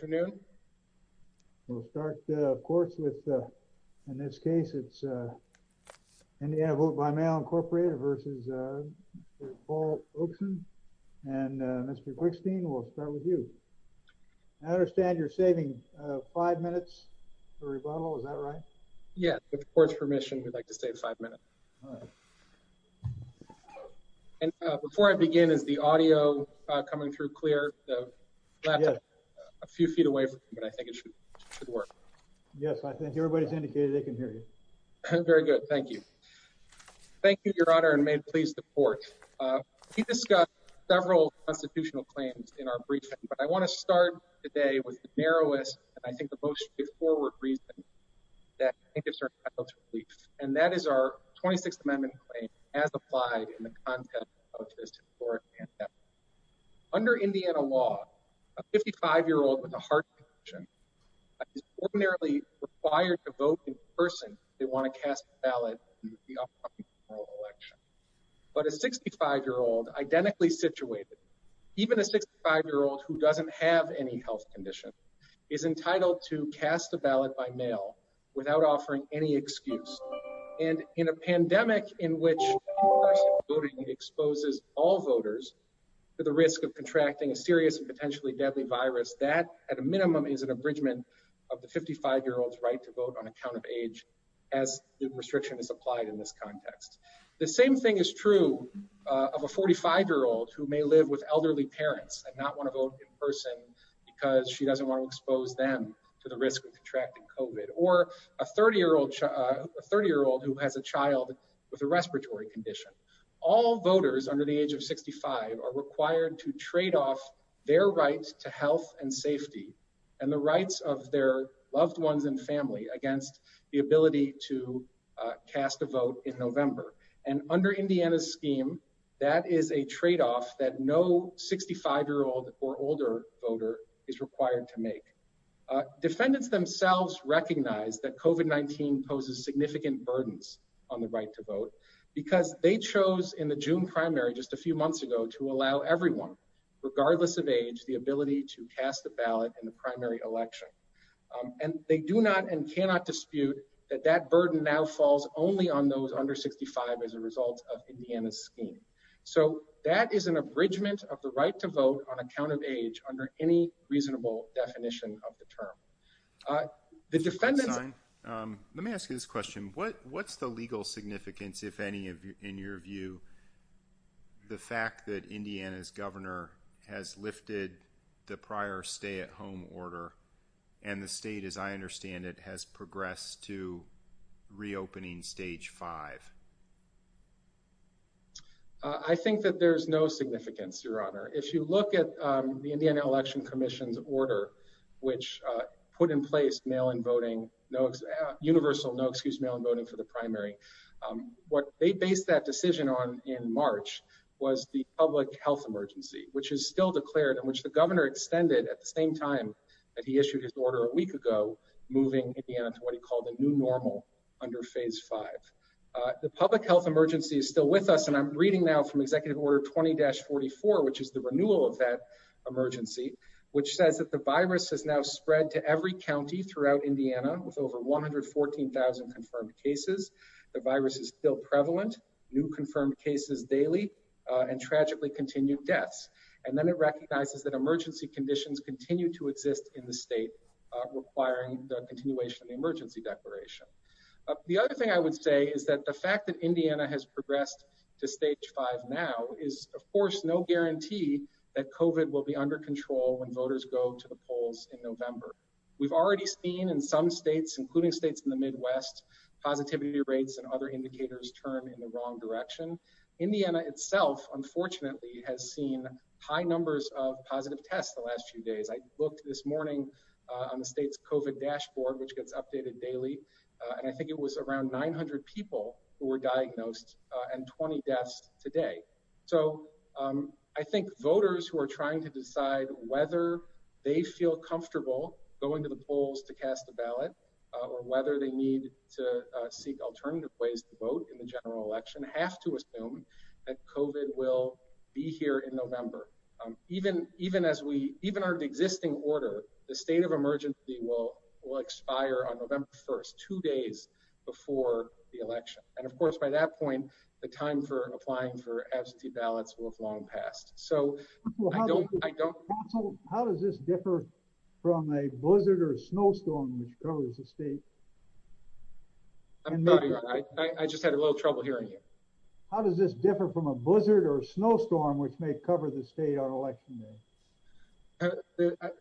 Mr. Quickstein, we'll start with you. I understand you're saving 5 minutes for rebuttal, is that right? Yes, with the court's permission, we'd like to save 5 minutes. And before I begin, is the audio coming through clear? Yes. Yes, I think everybody's indicated they can hear you. Very good, thank you. Thank you, Your Honor, and may it please the Court. We discussed several constitutional claims in our briefing, but I want to start today with the narrowest and I think the most straightforward reason that plaintiffs are entitled to relief, and that is our 26th Amendment claim as applied in the Constitution. A 65-year-old with a heart condition is ordinarily required to vote in person if they want to cast a ballot in the upcoming general election. But a 65-year-old identically situated, even a 65-year-old who doesn't have any health condition, is entitled to cast a ballot by mail without offering any excuse. And in a pandemic in which in-person voting exposes all voters to the risk of contracting a serious and potentially deadly virus, that at a minimum is an abridgment of the 55-year-old's right to vote on account of age, as the restriction is applied in this context. The same thing is true of a 45-year-old who may live with elderly parents and not want to vote in person because she doesn't want to expose them to the risk of contracting COVID, or a 30-year-old who has a child with a respiratory condition. All voters under the age of 65 are required to trade off their rights to health and safety and the rights of their loved ones and family against the ability to cast a vote in November. And under Indiana's scheme, that is a trade-off that no 65-year-old or older voter is required to make. Defendants themselves recognize that COVID-19 poses significant burdens on the right to vote because they chose in the June primary just a few months ago to allow everyone, regardless of age, the ability to cast a ballot in the primary election. And they do not and cannot dispute that that burden now falls only on those under 65 as a result of Indiana's scheme. So that is an abridgment of the right to vote on account of age under any reasonable definition of the term. Let me ask you this question. What's the legal significance, if any, in your view, the fact that Indiana's governor has lifted the prior stay-at-home order and the state, as I understand it, has progressed to reopening Stage 5? I think that there's no significance, Your Honor. If you look at the public health emergency that was put in place, universal no-excuse mail-in voting for the primary, what they based that decision on in March was the public health emergency, which is still declared and which the governor extended at the same time that he issued his order a week ago, moving Indiana to what he called a new normal under Phase 5. The public health emergency is still with us, and I'm reading now from Executive Order 20-44, which is the renewal of that emergency, which says that the virus has now spread to every county throughout Indiana, with over 114,000 confirmed cases. The virus is still prevalent, new confirmed cases daily, and tragically continued deaths. And then it recognizes that emergency conditions continue to exist in the state, requiring the continuation of the emergency declaration. The other thing I would say is that the fact that Indiana has progressed to Stage 5 now is, of course, no guarantee that COVID will be under control when voters go to the polls in November. We've already seen in some states, including states in the Midwest, positivity rates and other indicators turn in the wrong direction. Indiana itself, unfortunately, has seen high numbers of positive tests the last few days. I looked this morning on the state's COVID dashboard, which gets updated daily, and I think it was around 900 people who were tested positive. So I think it's time to decide whether they feel comfortable going to the polls to cast a ballot, or whether they need to seek alternative ways to vote in the general election, have to assume that COVID will be here in November. Even as we even are existing order, the state of emergency will expire on November 1st, two days before the election. And of course, by that point, the time for applying for absentee ballots will have long passed. So I don't... How does this differ from a blizzard or a snowstorm which covers the state? I'm sorry, I just had a little trouble hearing you. How does this differ from a blizzard or a snowstorm which may cover the state on election day?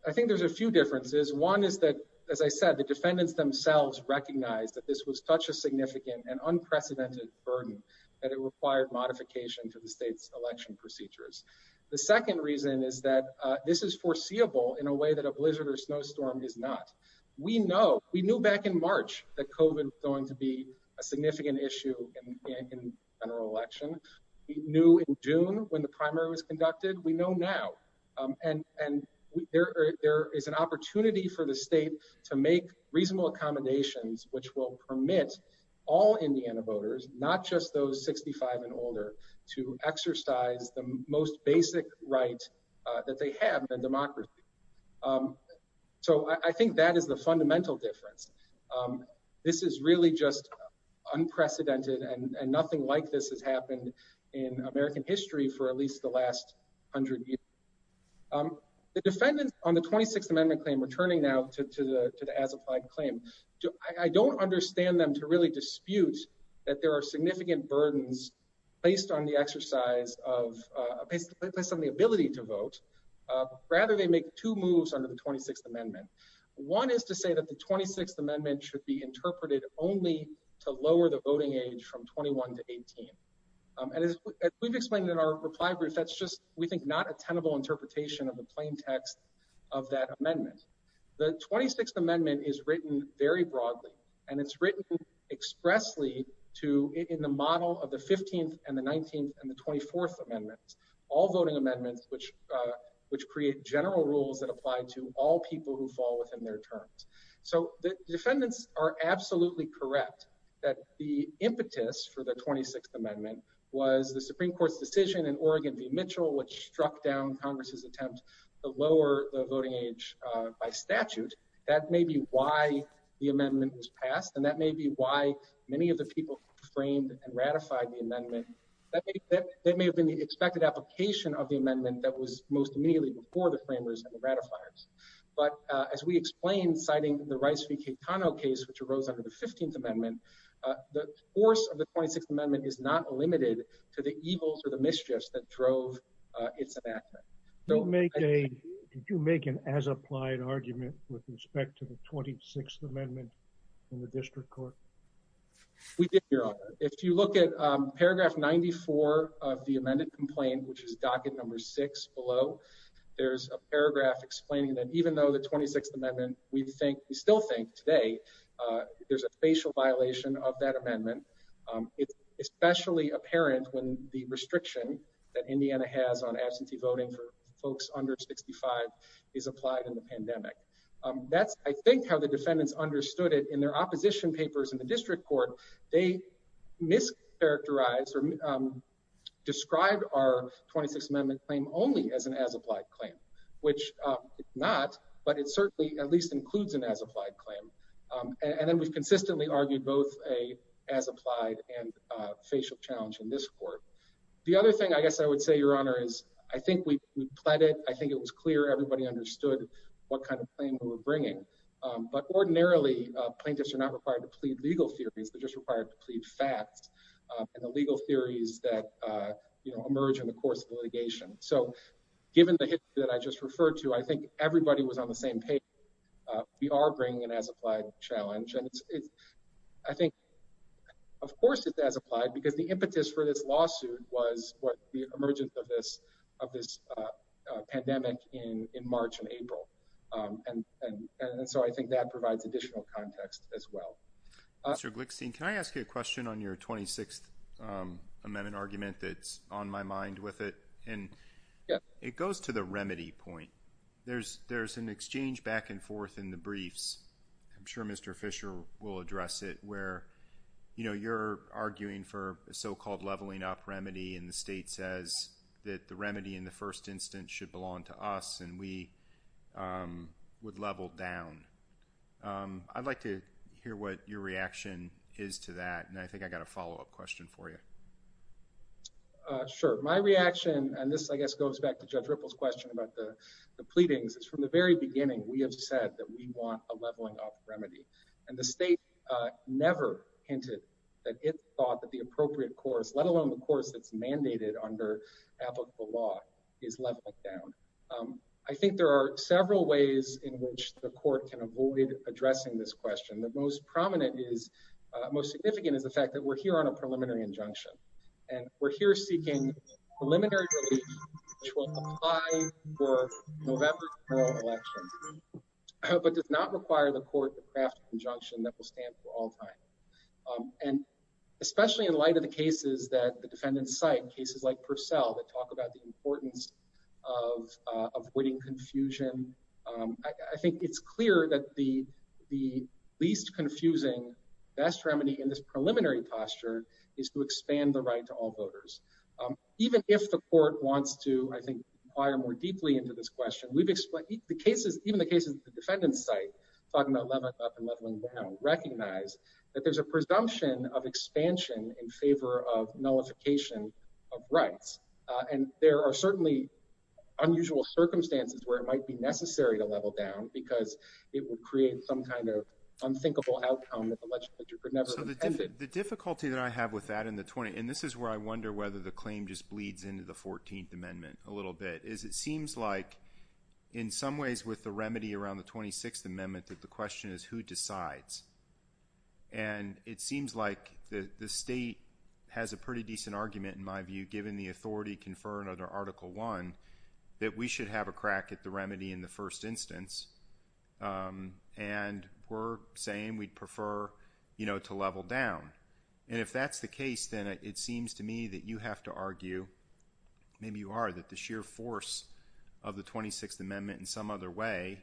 I think there's a few differences. One is that, as I said, the defendants themselves recognize that this was such a significant and unprecedented burden that it required modification to the state's election procedures. The second reason is that this is foreseeable in a way that a blizzard or snowstorm is not. We know. We knew back in March that COVID was going to be a significant issue in the general election. We knew in June when the primary was conducted. We know now. And there is an opportunity for the state to make reasonable accommodations which will permit all Indiana voters, not just those 65 and older, to exercise the most basic right that they have in a democracy. So I think that is the fundamental difference. This is really just unprecedented and nothing like this has happened in American history for at least the last hundred years. The defendants on the 26th Amendment claim returning now to the as-applied claim, I don't understand them to really dispute that there are significant burdens based on the ability to vote. Rather, they make two moves under the 26th Amendment. One is to say that the 26th Amendment should be interpreted only to lower the voting age from 21 to 18. As we've explained in our reply group, that's just, we think, not a tenable interpretation of the plain text of that amendment. The 26th Amendment is written very broadly. And it's written expressly in the model of the 15th and the 19th and the 24th Amendments. All voting amendments which create general rules that apply to all people who fall within their terms. So the defendants are absolutely correct that the impetus for the 26th Amendment was the Supreme Court's decision in Oregon v. Mitchell which struck down Congress's attempt to lower the voting age by statute. That may be why the amendment was passed, and that may be why many of the people framed and ratified the amendment. That may have been the expected application of the amendment that was most immediately before the framers and the ratifiers. But as we explained, citing the Rice v. Caetano case which arose under the 15th Amendment, the force of the 26th Amendment is not limited to the evils or the mischiefs that drove its enactment. Did you make an as-applied argument with respect to the 26th Amendment in the District Court? We did, Your Honor. If you look at paragraph 94 of the amended complaint, which is docket number 6 below, there's a paragraph explaining that even though the 26th Amendment, we think, we still think today, there's a facial violation of that amendment. It's especially apparent when the restriction that Indiana has on absentee voting for folks under 65 is applied in the pandemic. That's, I think, how the defendants understood it in their opposition papers in the District Court. They mischaracterized or described our 26th Amendment claim only as an as-applied claim, which it's not, but it certainly at least includes an as-applied claim. And then we've consistently argued both an as-applied and facial challenge in this court. The other thing, I guess I would say, Your Honor, is I think we pled it. I think it was clear everybody understood what kind of claim we were bringing. But ordinarily, plaintiffs are not required to plead legal theories. They're just required to plead facts and the legal theories that emerge in the course of litigation. So given the history that I just referred to, I think everybody was on the same page. We are bringing an as-applied challenge. And I think, of course, it's clear that this lawsuit was what the emergence of this pandemic in March and April. And so I think that provides additional context as well. Mr. Glickstein, can I ask you a question on your 26th Amendment argument that's on my mind with it? It goes to the remedy point. There's an exchange back and forth in the briefs. I'm sure Mr. Fisher will address it, where you're arguing for a so-called leveling-up remedy and the state says that the remedy in the first instance should belong to us and we would level down. I'd like to hear what your reaction is to that, and I think I've got a follow-up question for you. Sure. My reaction, and this, I guess, goes back to Judge Ripple's question about the pleadings, is from the very beginning, we have said that we want a leveling-up remedy. And the state never hinted that it thought that the appropriate course, let alone the course that's mandated under applicable law, is leveling down. I think there are several ways in which the court can avoid addressing this question. The most prominent is, most significant, is the fact that we're here on a preliminary injunction. And we're here seeking a preliminary remedy which will apply for November's general election, but does not require the court to craft an injunction that will stand for all time. And especially in light of the cases that the defendants cite, cases like Purcell that talk about the importance of avoiding confusion, I think it's clear that the least confusing best remedy in this preliminary posture is to expand the right to all voters. Even if the court wants to, I think, inquire more deeply into this question. Even the cases that the defendants cite, talking about leveling up and leveling down, recognize that there's a presumption of expansion in favor of nullification of rights. And there are certainly unusual circumstances where it might be necessary to level down, because it would create some kind of unthinkable outcome that the legislature could never have intended. And this is where I wonder whether the claim just bleeds into the 14th Amendment a little bit. It seems like, in some ways, with the remedy around the 26th Amendment, that the question is who decides? And it seems like the state has a pretty decent argument, in my view, given the authority conferred under Article I, that we should have a crack at the remedy in the first instance. And we're saying we'd prefer to level down. And if that's the case, then it seems to me that you have to argue — maybe you are — that the sheer force of the 26th Amendment in some other way,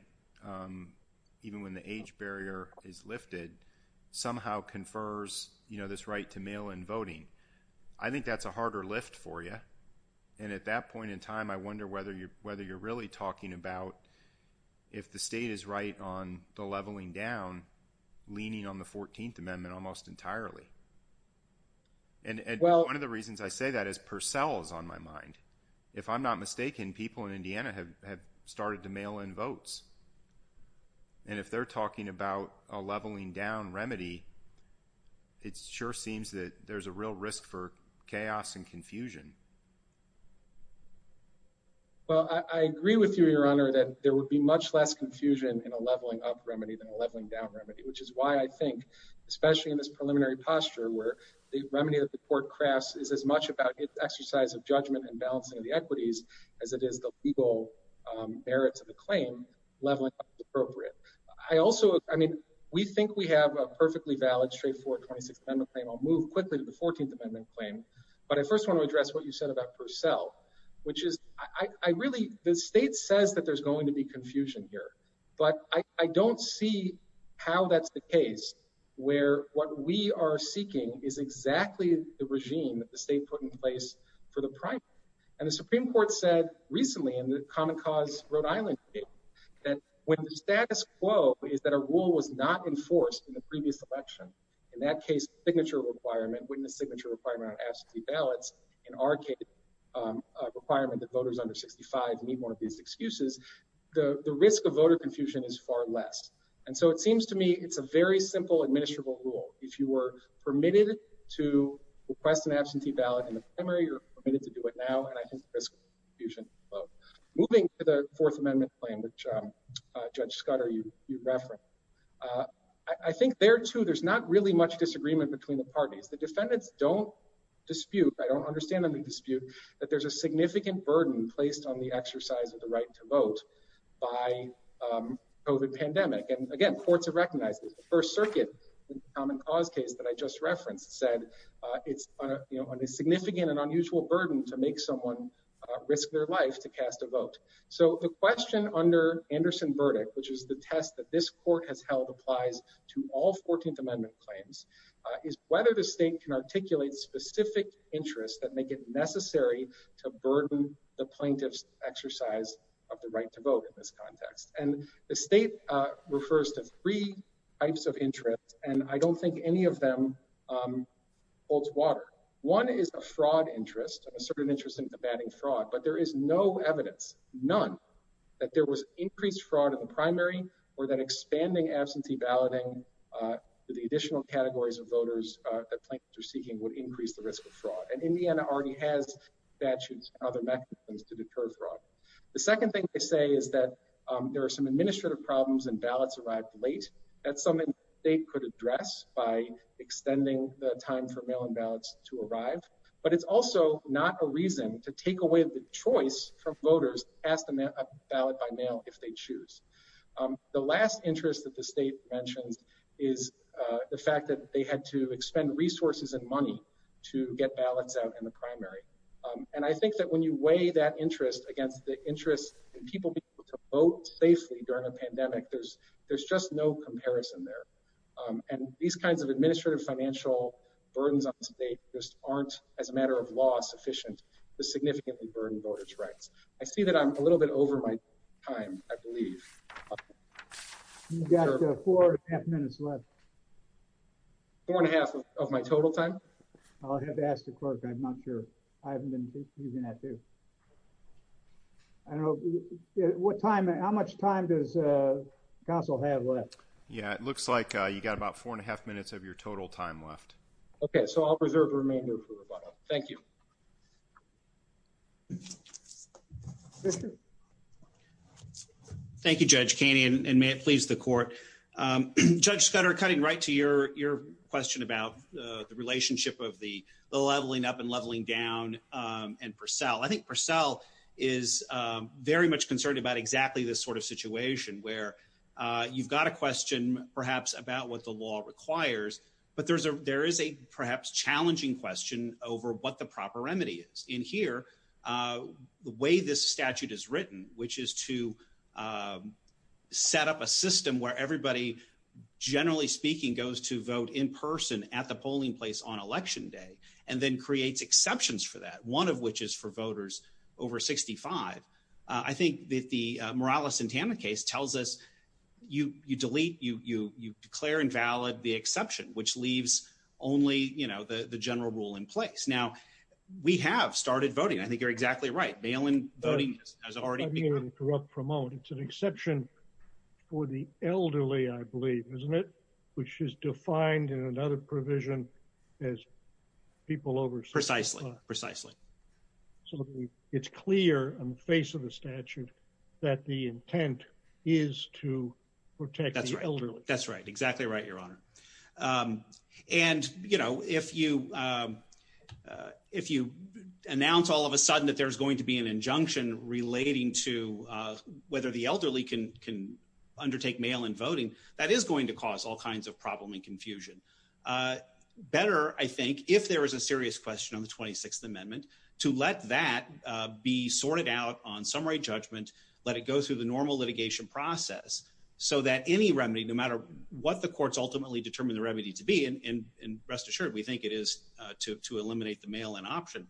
even when the age barrier is lifted, somehow confers this right to mail-in voting. I think that's a harder lift for you. And at that point in time, I wonder whether you're really talking about if the state is right on the leveling down, leaning on the 14th Amendment almost entirely. And one of the reasons I say that is Purcell is on my mind. If I'm not mistaken, people in Indiana have started to mail-in votes. And if they're talking about a leveling-down remedy, it sure seems that there's a real risk for chaos and confusion. Well, I agree with you, Your Honor, that there would be much less confusion in a leveling-up remedy than a leveling-down remedy, which is why I think it's important that we have a structure where the remedy that the court crafts is as much about its exercise of judgment and balancing of the equities as it is the legal merits of the claim leveling-up is appropriate. I also — I mean, we think we have a perfectly valid, straightforward 26th Amendment claim. I'll move quickly to the 14th Amendment claim. But I first want to address what you said about Purcell, which is I really — the state says that there's going to be confusion here. But I don't see how that's the case where what we are seeking is exactly the regime that the state put in place for the primary. And the Supreme Court said recently in the Common Cause Rhode Island case that when the status quo is that a rule was not enforced in the previous election, in that case, signature requirement — witness signature requirement on absentee ballots — in our case, a requirement that voters under 65 need one of these excuses, the risk of voter confusion is far less. And so it seems to me it's a very simple, administrable rule. If you were permitted to request an absentee ballot in the primary, you're permitted to do it now, and I think the risk of confusion is low. Moving to the Fourth Amendment claim, which Judge Scudder, you referenced, I think there, too, there's not really much disagreement between the parties. The defendants don't dispute — I don't understand them to dispute — that there's a significant burden placed on the exercise of the right to vote by COVID pandemic. And again, courts have recognized this. The First Circuit in the Common Cause case that I just referenced said it's a significant and unusual burden to make someone risk their life to cast a vote. So the question under Anderson's verdict, which is the test that this court has held applies to all Fourteenth Amendment claims, is whether the state can articulate specific interests that make it the plaintiff's exercise of the right to vote in this context. And the state refers to three types of interests, and I don't think any of them holds water. One is a fraud interest, a certain interest in combating fraud, but there is no evidence, none, that there was increased fraud in the primary or that expanding absentee balloting to the additional categories of voters that plaintiffs are seeking would increase the risk of fraud. And Indiana already has statutes and other mechanisms to deter fraud. The second thing they say is that there are some administrative problems and ballots arrived late. That's something the state could address by extending the time for mail-in ballots to arrive. But it's also not a reason to take away the choice from voters to cast a ballot by mail if they choose. The last interest that the state mentions is the fact that they had to expend resources and money to get ballots out in the primary. And I think that when you weigh that interest against the interest in people being able to vote safely during a pandemic, there's just no comparison there. And these kinds of administrative financial burdens on the state just aren't as a matter of law sufficient to significantly burden voters' rights. I see that I'm a little bit over my time, I believe. You've got four and a half minutes left. Four and a half of my total time? I'll have to ask the clerk. I'm not sure. I haven't been using that, too. I don't know. What time, how much time does counsel have left? Yeah, it looks like you've got about four and a half minutes of your total time left. Okay, so I'll reserve the remainder for rebuttal. Thank you. Thank you, Judge Caney, and may it please the court. Judge Scudder, cutting right to your question about the relationship of the leveling up and leveling down and Purcell. I think Purcell is very much concerned about exactly this sort of situation, where you've got a question perhaps about what the law requires, but there is a perhaps challenging question over what the proper remedy is. In here, the way this statute is written, which is to set up a system where everybody, generally speaking, goes to vote in person at the polling place on election day and then creates exceptions for that, one of which is for voters over 65. I think that the Morales and Tana case tells us you delete, you declare invalid the exception, which leaves only the general rule in place. Now, we have started voting. I think you're exactly right. Bail-in voting has already begun. It's an exception for the elderly, I believe, isn't it, which is defined in another provision as people over 65. Precisely. So it's clear on the face of the statute that the intent is to protect the elderly. That's right. Exactly right, Your Honor. And, you know, if you announce all of a sudden an exception relating to whether the elderly can undertake bail-in voting, that is going to cause all kinds of problem and confusion. Better, I think, if there is a serious question on the 26th Amendment, to let that be sorted out on summary judgment, let it go through the normal litigation process, so that any remedy, no matter what the courts ultimately determine the remedy to be, and rest assured, we think it is to eliminate the bail-in option,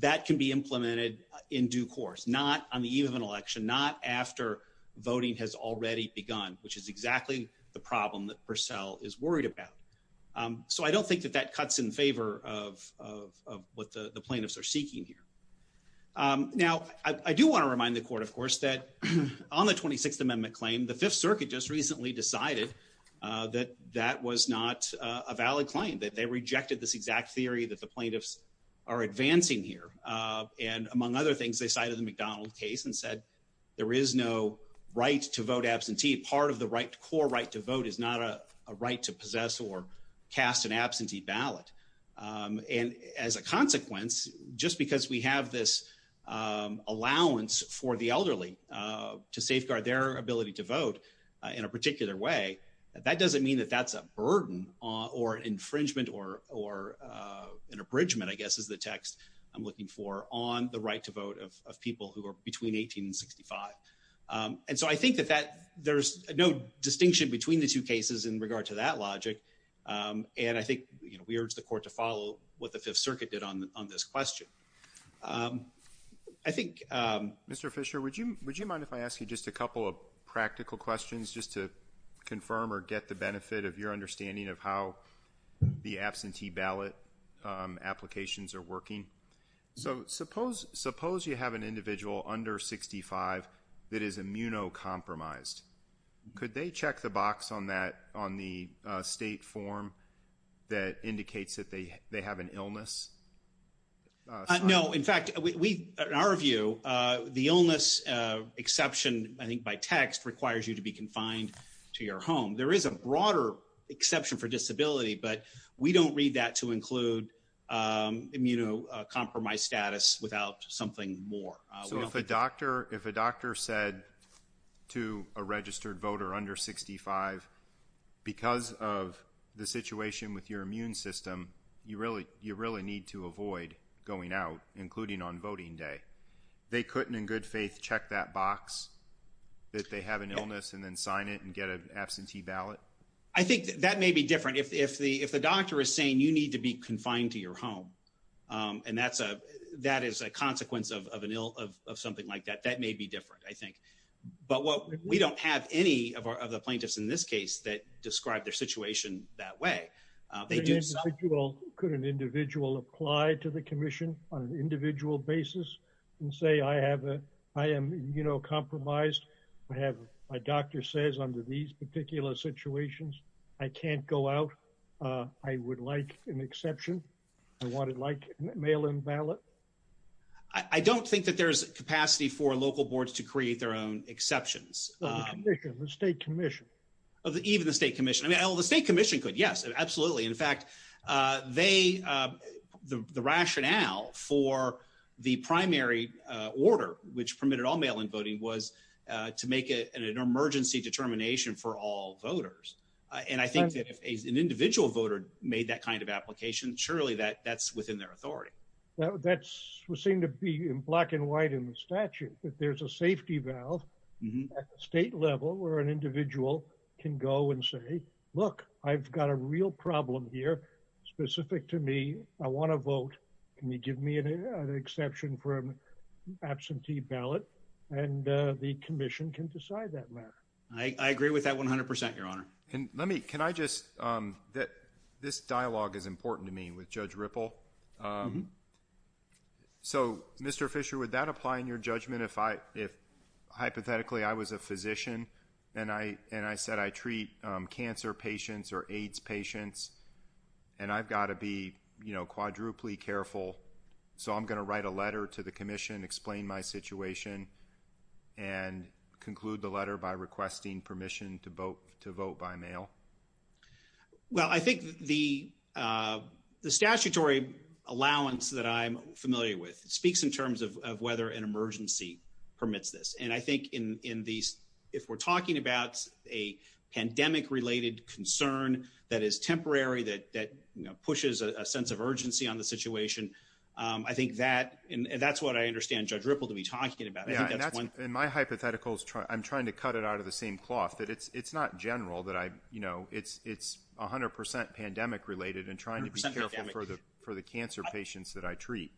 that can be implemented in due course, not on the eve of an election, not after voting has already begun, which is exactly the problem that Purcell is worried about. So I don't think that that cuts in favor of what the plaintiffs are seeking here. Now, I do want to remind the Court, of course, that on the 26th Amendment claim, the Fifth Circuit just recently decided that that was not a valid claim, that they rejected this exact theory that the plaintiffs are advancing here. Among other things, they cited the McDonald case and said there is no right to vote absentee. Part of the core right to vote is not a right to possess or cast an absentee ballot. As a consequence, just because we have this allowance for the elderly to safeguard their ability to vote in a particular way, that doesn't mean that that's a burden or infringement or an abridgment, I guess, is the text I'm looking for on the right to vote of people who are between 18 and 65. And so I think that there's no distinction between the two cases in regard to that logic, and I think we urge the Court to follow what the Fifth Circuit did on this question. I think... Mr. Fisher, would you mind if I ask you just a couple of practical questions, just to confirm or get the benefit of your understanding of how the absentee ballot applications are working? Suppose you have an individual under 65 that is immunocompromised. Could they check the box on the state form that indicates that they have an illness? No. In fact, in our view, the illness exception, I think by text, requires you to be confined to your home. There is a broader exception for disability, but we don't read that to include immunocompromised status without something more. So if a doctor said to a registered voter under 65, because of the situation with your immune system, you really need to avoid going out, including on voting day. They couldn't, in good faith, check that box that they have an illness and then sign it and get an absentee ballot? I think that may be different. If the doctor is saying you need to be confined to your home, and that is a consequence of something like that, that may be different, I think. But we don't have any of the plaintiffs in this case that describe their situation that way. Could an individual apply to the Commission on an individual basis and say, I am immunocompromised. My doctor says under these particular situations, I can't go out. I would like an exception. I want it like mail-in ballot. I don't think that there is capacity for local boards to create their own exceptions. The Commission, the State Commission. Even the State Commission. The State Commission could, yes, absolutely. In fact, the rationale for the primary order, which permitted all mail-in voting, was to make an emergency determination for all voters. And I think that if an individual voter made that kind of application, surely that's within their authority. That would seem to be in black and white in the statute, that there's a safety valve at the state level where an individual can go and say, look, I've got a real problem here specific to me. I want a vote. Can you give me an exception for an absentee ballot? And the Commission can decide that matter. I agree with that 100%, Your Honor. This dialogue is important to me with Judge Ripple. So, Mr. Fisher, would that apply in your judgment if hypothetically I was a physician and I said I treat cancer patients or AIDS patients and I've got to be quadruply careful so I'm going to write a letter to the Commission, explain my situation and conclude the letter by requesting permission to vote by mail? Well, I think the statutory allowance that I'm familiar with speaks in terms of whether an emergency permits this. And I think if we're talking about a pandemic-related concern that is temporary, that pushes a sense of urgency on the situation, I think that's what I understand Judge Ripple to be talking about. And my hypothetical is I'm trying to cut it out of the same cloth, that it's not general, that it's 100% pandemic-related and trying to be careful for the cancer patients that I treat.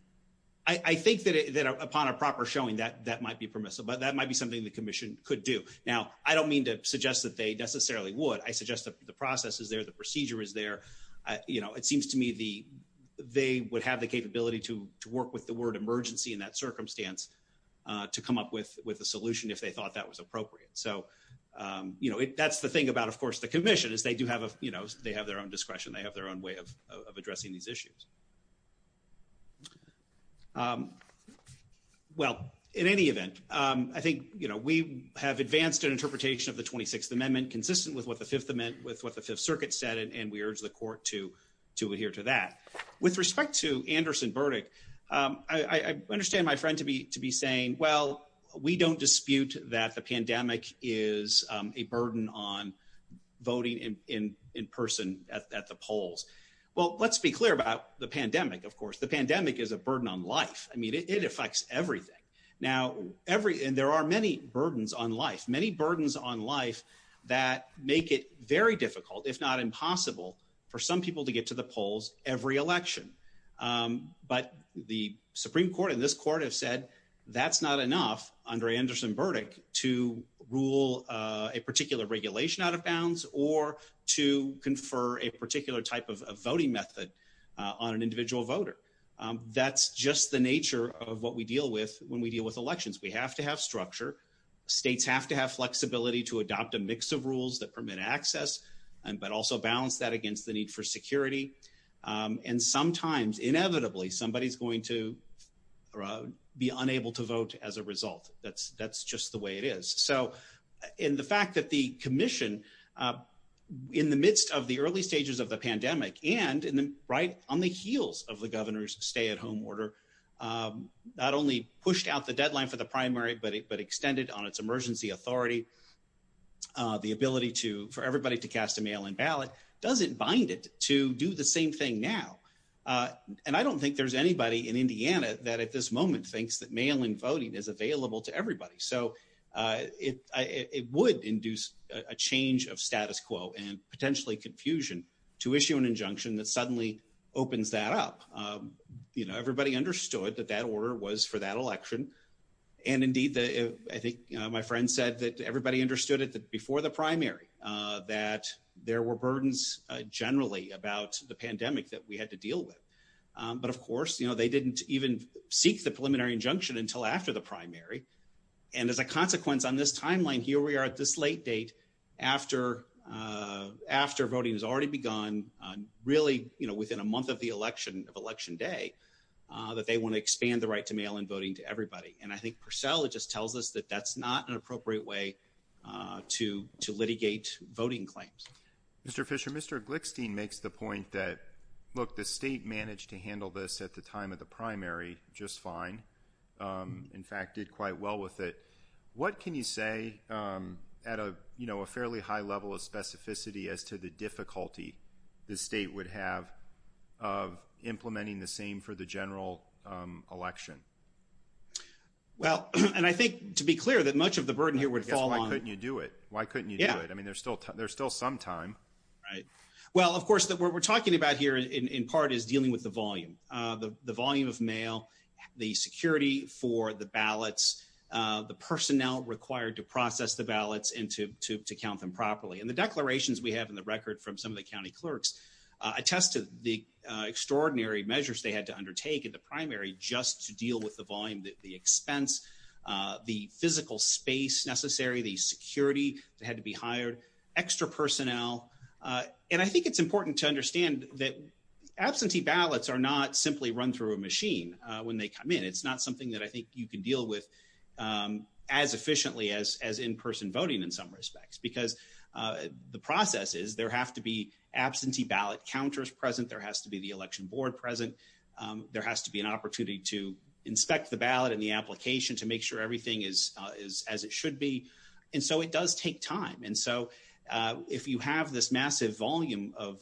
I think that upon a proper showing, that might be permissible. But that might be something the Commission could do. Now, I don't mean to suggest that they necessarily would. I suggest that the process is there, the procedure is there. It seems to me they would have the capability to work with the word emergency in that circumstance to come up with a solution if they thought that was appropriate. That's the thing about the Commission, they have their own discretion, they have their own way of addressing these issues. Well, in any event, I think we have advanced an interpretation of the 26th Amendment consistent with what the Fifth Circuit said, and we urge the Court to adhere to that. With respect to Anderson Burdick, I understand my friend to be saying, well, we don't dispute that the pandemic is a burden on voting in person at the polls. Well, let's be clear about the pandemic, of course. The pandemic is a burden on life. I mean, it affects everything. Now, there are many burdens on life, many burdens on life that make it very difficult, if not impossible, for some people to get to the polls every election. But the Supreme Court and this Court have said that's not enough under Anderson Burdick to rule a particular regulation out of bounds or to confer a particular type of voting method on an individual voter. That's just the nature of what we deal with when we deal with elections. We have to have structure. States have to have flexibility to adopt a mix of rules that permit access, but also balance that against the need for security. And sometimes, inevitably, somebody's going to be unable to vote as a result. That's just the way it is. And the fact that the Commission, in the midst of the early stages of the pandemic and right on the heels of the governor's stay-at-home order, not only pushed out the deadline for the primary, but extended on its emergency authority the ability for everybody to cast a mail-in ballot, doesn't bind it to do the same thing now. And I don't think there's anybody in Indiana that, at this moment, thinks that mail-in voting is available to everybody. So it would induce a change of status quo and potentially confusion to issue an injunction that suddenly opens that up. Everybody understood that that order was for that election. And indeed, I think my friend said that everybody understood it before the primary, that there were burdens, generally, about the pandemic that we had to deal with. But of course, they didn't even seek the preliminary injunction until after the primary. And as a consequence, on this timeline, here we are at this late date, after voting has already begun, really within a month of the election day, that they want to expand the right to mail-in voting to everybody. And I think Purcell just tells us that that's not an appropriate way to litigate voting claims. Mr. Fischer, Mr. Glickstein makes the point that, look, the state managed to handle this at the time of the primary just fine. In fact, did quite well with it. What can you say at a fairly high level of specificity as to the difficulty the state would have of implementing the same for the general election? Well, and I think to be clear, that much of the burden here would fall on... I guess, why couldn't you do it? Why couldn't you do it? I mean, there's still some time. Right. Well, of course, what we're talking about here, in part, is dealing with the volume. The volume of mail, the security for the ballots, the personnel required to process the ballots and to count them properly. And the declarations we have in the record from some of the county clerks attest to the extraordinary measures they had to undertake at the primary just to deal with the volume, the expense, the physical space necessary, the security that had to be hired, extra personnel. And I think it's important to understand that absentee ballots are not simply run through a machine when they come in. It's not something that I think you can deal with as efficiently as in-person voting in some respects. Because the process is there have to be absentee ballot counters present. There has to be the election board present. There has to be an opportunity to inspect the ballot and the application to make sure everything is as it should be. And so it does take time. And so if you have this massive volume of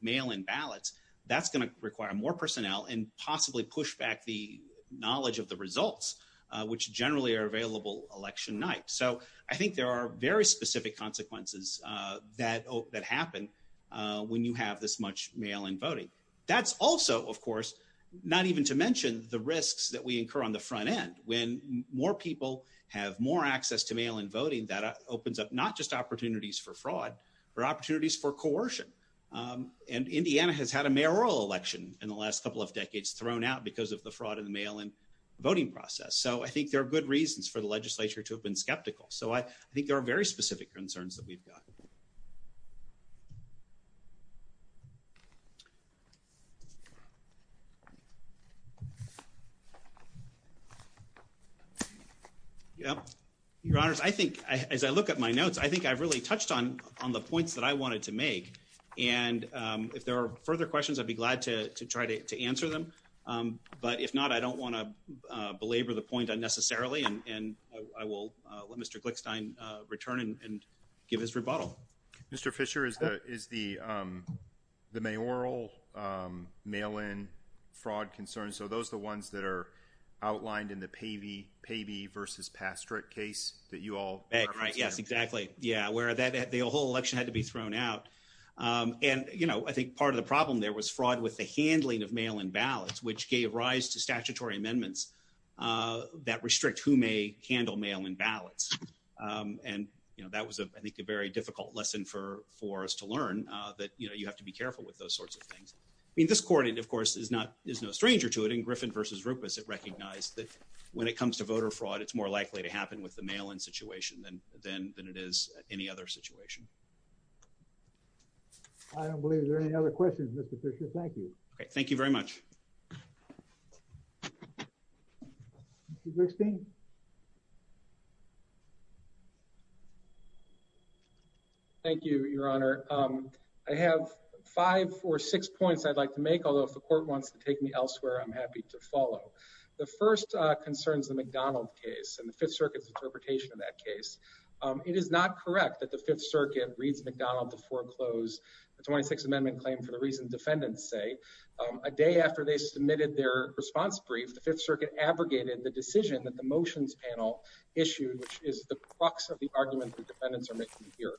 mail-in ballots, that's going to require more personnel and possibly push back the results, which generally are available election night. So I think there are very specific consequences that happen when you have this much mail-in voting. That's also, of course, not even to mention the risks that we incur on the front end. When more people have more access to mail-in voting, that opens up not just opportunities for fraud, but opportunities for coercion. And Indiana has had a mayoral election in the last couple of decades thrown out because of the fraud in the mail-in voting process. So I think there are good reasons for the legislature to have been skeptical. So I think there are very specific concerns that we've got. Your Honors, I think as I look at my notes, I think I've really touched on the points that I wanted to make. And if there are further questions, I'd be glad to try to answer them. But if not, I don't want to belabor the point unnecessarily. And I will let Mr. Glickstein return and give his rebuttal. Mr. Fisher, is the mayoral mail-in fraud concern, so those are the ones that are outlined in the Pavey v. Pastrick case that you all referenced? Yes, exactly. Where the whole election had to be I think part of the problem there was fraud with the handling of mail-in ballots, which gave rise to statutory amendments that restrict who may handle mail-in ballots. And that was, I think, a very difficult lesson for us to learn, that you have to be careful with those sorts of things. I mean, this court, of course, is no stranger to it. In Griffin v. Rupes, it recognized that when it comes to voter fraud, it's more likely to happen with the mail-in situation than it is any other situation. I don't believe there are any other questions, Mr. Fisher. Thank you. Okay, thank you very much. Mr. Glickstein? Thank you, Your Honor. I have five or six points I'd like to make, although if the court wants to take me elsewhere, I'm happy to follow. The first concerns the McDonald case and the Fifth Circuit's interpretation of that case. It is not correct that the Fifth Circuit reads McDonald to foreclose the 26th Amendment claim for the reasons defendants say. A day after they submitted their response brief, the Fifth Circuit abrogated the decision that the motions panel issued, which is the crux of the argument the defendants are making here.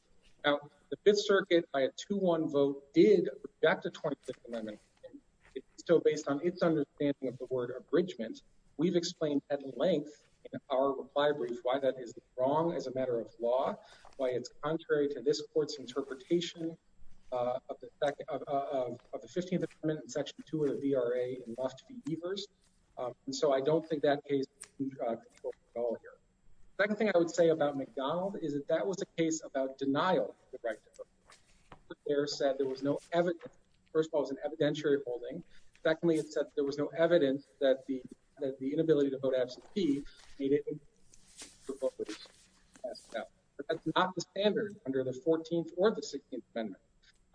Now, the Fifth Circuit, by a 2-1 vote, did reject the 25th Amendment. It's still based on its understanding of the word abridgment. We've explained at length in our reply brief why that is wrong as a matter of law, why it's contrary to this court's interpretation of the 15th Amendment in Section 2 of the VRA and must be reversed. And so I don't think that case is in control at all here. The second thing I would say about McDonald is that that was a case about denial of the right to vote. The court there said there was no evidence. First of all, it was an evidentiary holding. Secondly, it said there was no evidence that the inability to vote absentee needed to be proposed. That's not the standard under the 14th or the 16th Amendment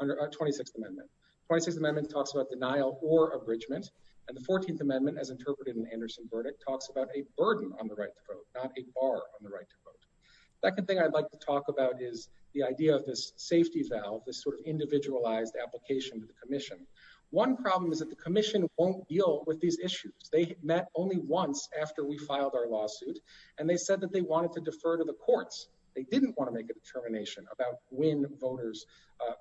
under our 26th Amendment. The 26th Amendment talks about denial or abridgment and the 14th Amendment, as interpreted in Anderson's verdict, talks about a burden on the right to vote, not a bar on the right to vote. The second thing I'd like to talk about is the idea of this safety valve, this sort of individualized application to the commission. One problem is that the commission won't deal with these issues. They met only once after we filed our lawsuit and they said that they wanted to defer to the courts. They didn't want to make a determination about when voters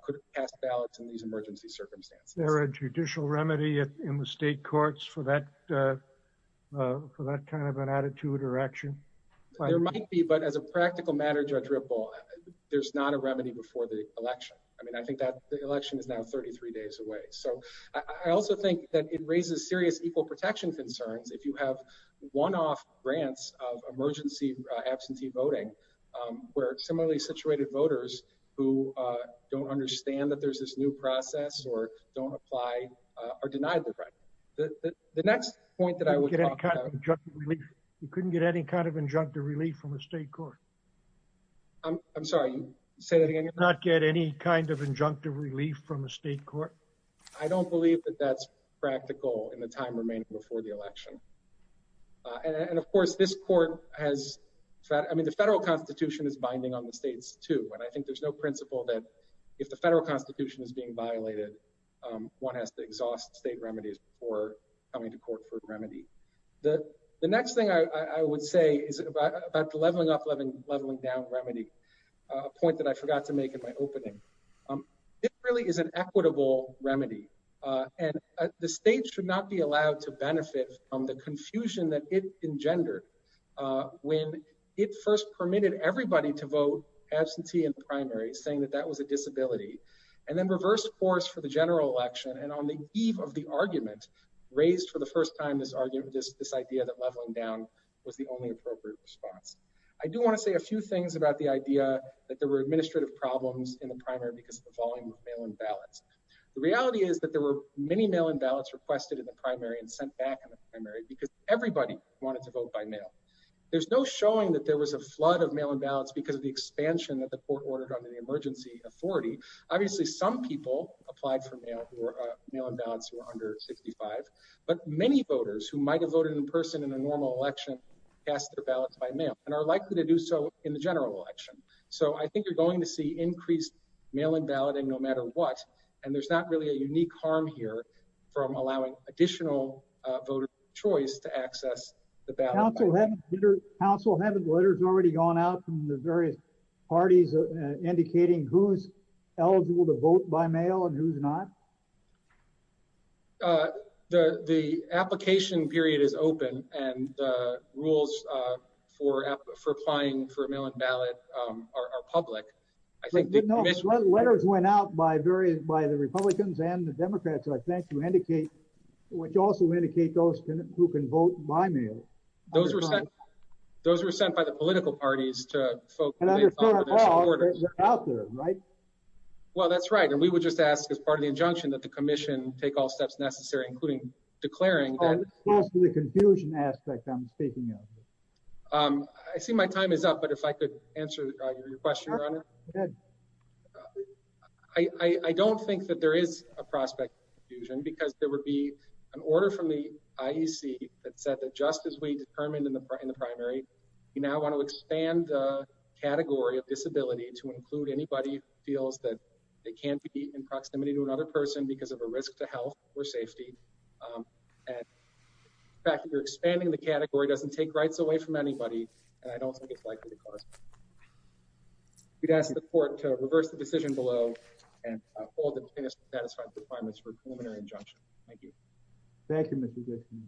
could pass ballots in these emergency circumstances. Is there a judicial remedy in the state courts for that kind of an attitude or action? There might be, but as a practical matter, Judge Ripple, there's not a remedy before the election. I mean, I think the election is now 33 days away. So I also think that it raises serious equal protection concerns if you have one-off grants of emergency absentee voting where similarly situated voters who don't understand that there's this new process or don't apply are denied the right. The next point that I would talk about... You couldn't get any kind of injunctive relief from a state court. I'm sorry, say that again. You could not get any kind of injunctive relief from a state court. I don't believe that that's practical in the time remaining before the election. And of course, this court has... I mean, the federal constitution is binding on the states too, and I think there's no principle that if the federal constitution is being violated, one has to exhaust state remedies before coming to court for a remedy. The next thing I would say is about the leveling up, leveling down remedy, a point that I forgot to make in my opening. It really is an equitable remedy, and the state should not be allowed to benefit from the confusion that it engendered when it first permitted everybody to vote absentee in the primary, saying that that was a disability, and then reversed course for the general election, and on the eve of the argument, raised for the first time this idea that leveling down was the only appropriate response. I do want to say a few things about the administrative problems in the primary because of the volume of mail-in ballots. The reality is that there were many mail-in ballots requested in the primary and sent back in the primary because everybody wanted to vote by mail. There's no showing that there was a flood of mail-in ballots because of the expansion that the court ordered under the emergency authority. Obviously, some people applied for mail-in ballots who were under 65, but many voters who might have voted in person in a normal election cast their ballots by mail, and are likely to do so in the general election. So I think you're going to see increased mail-in balloting no matter what, and there's not really a unique harm here from allowing additional voter choice to access the ballot. Council, haven't letters already gone out from the various parties indicating who's eligible to vote by mail and who's not? The application period is open, and the rules for applying for a mail-in ballot are public. Letters went out by the Republicans and the Democrats, I think, which also indicate those who can vote by mail. Those were sent by the political parties to vote for their supporters. Well, that's right, and we would just ask as part of the injunction that the commission take all steps necessary, including declaring that... What's the confusion aspect I'm speaking of? I see my time is up, but if I could answer your question, Your Honor. I don't think that there is a prospect of confusion, because there would be an order from the IEC that said that just as we determined in the primary, we now want to expand the category of disability to include anybody who feels that they can't be in proximity to another person because of a risk to health or the fact that you're expanding the category doesn't take rights away from anybody, and I don't think it's likely to cause confusion. We'd ask the court to reverse the decision below and hold the plaintiff's satisfaction requirements for a preliminary injunction. Thank you. Thank you, Mr. Dickson.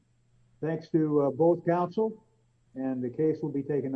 Thanks to both counsel, and the case will be taken under advisement.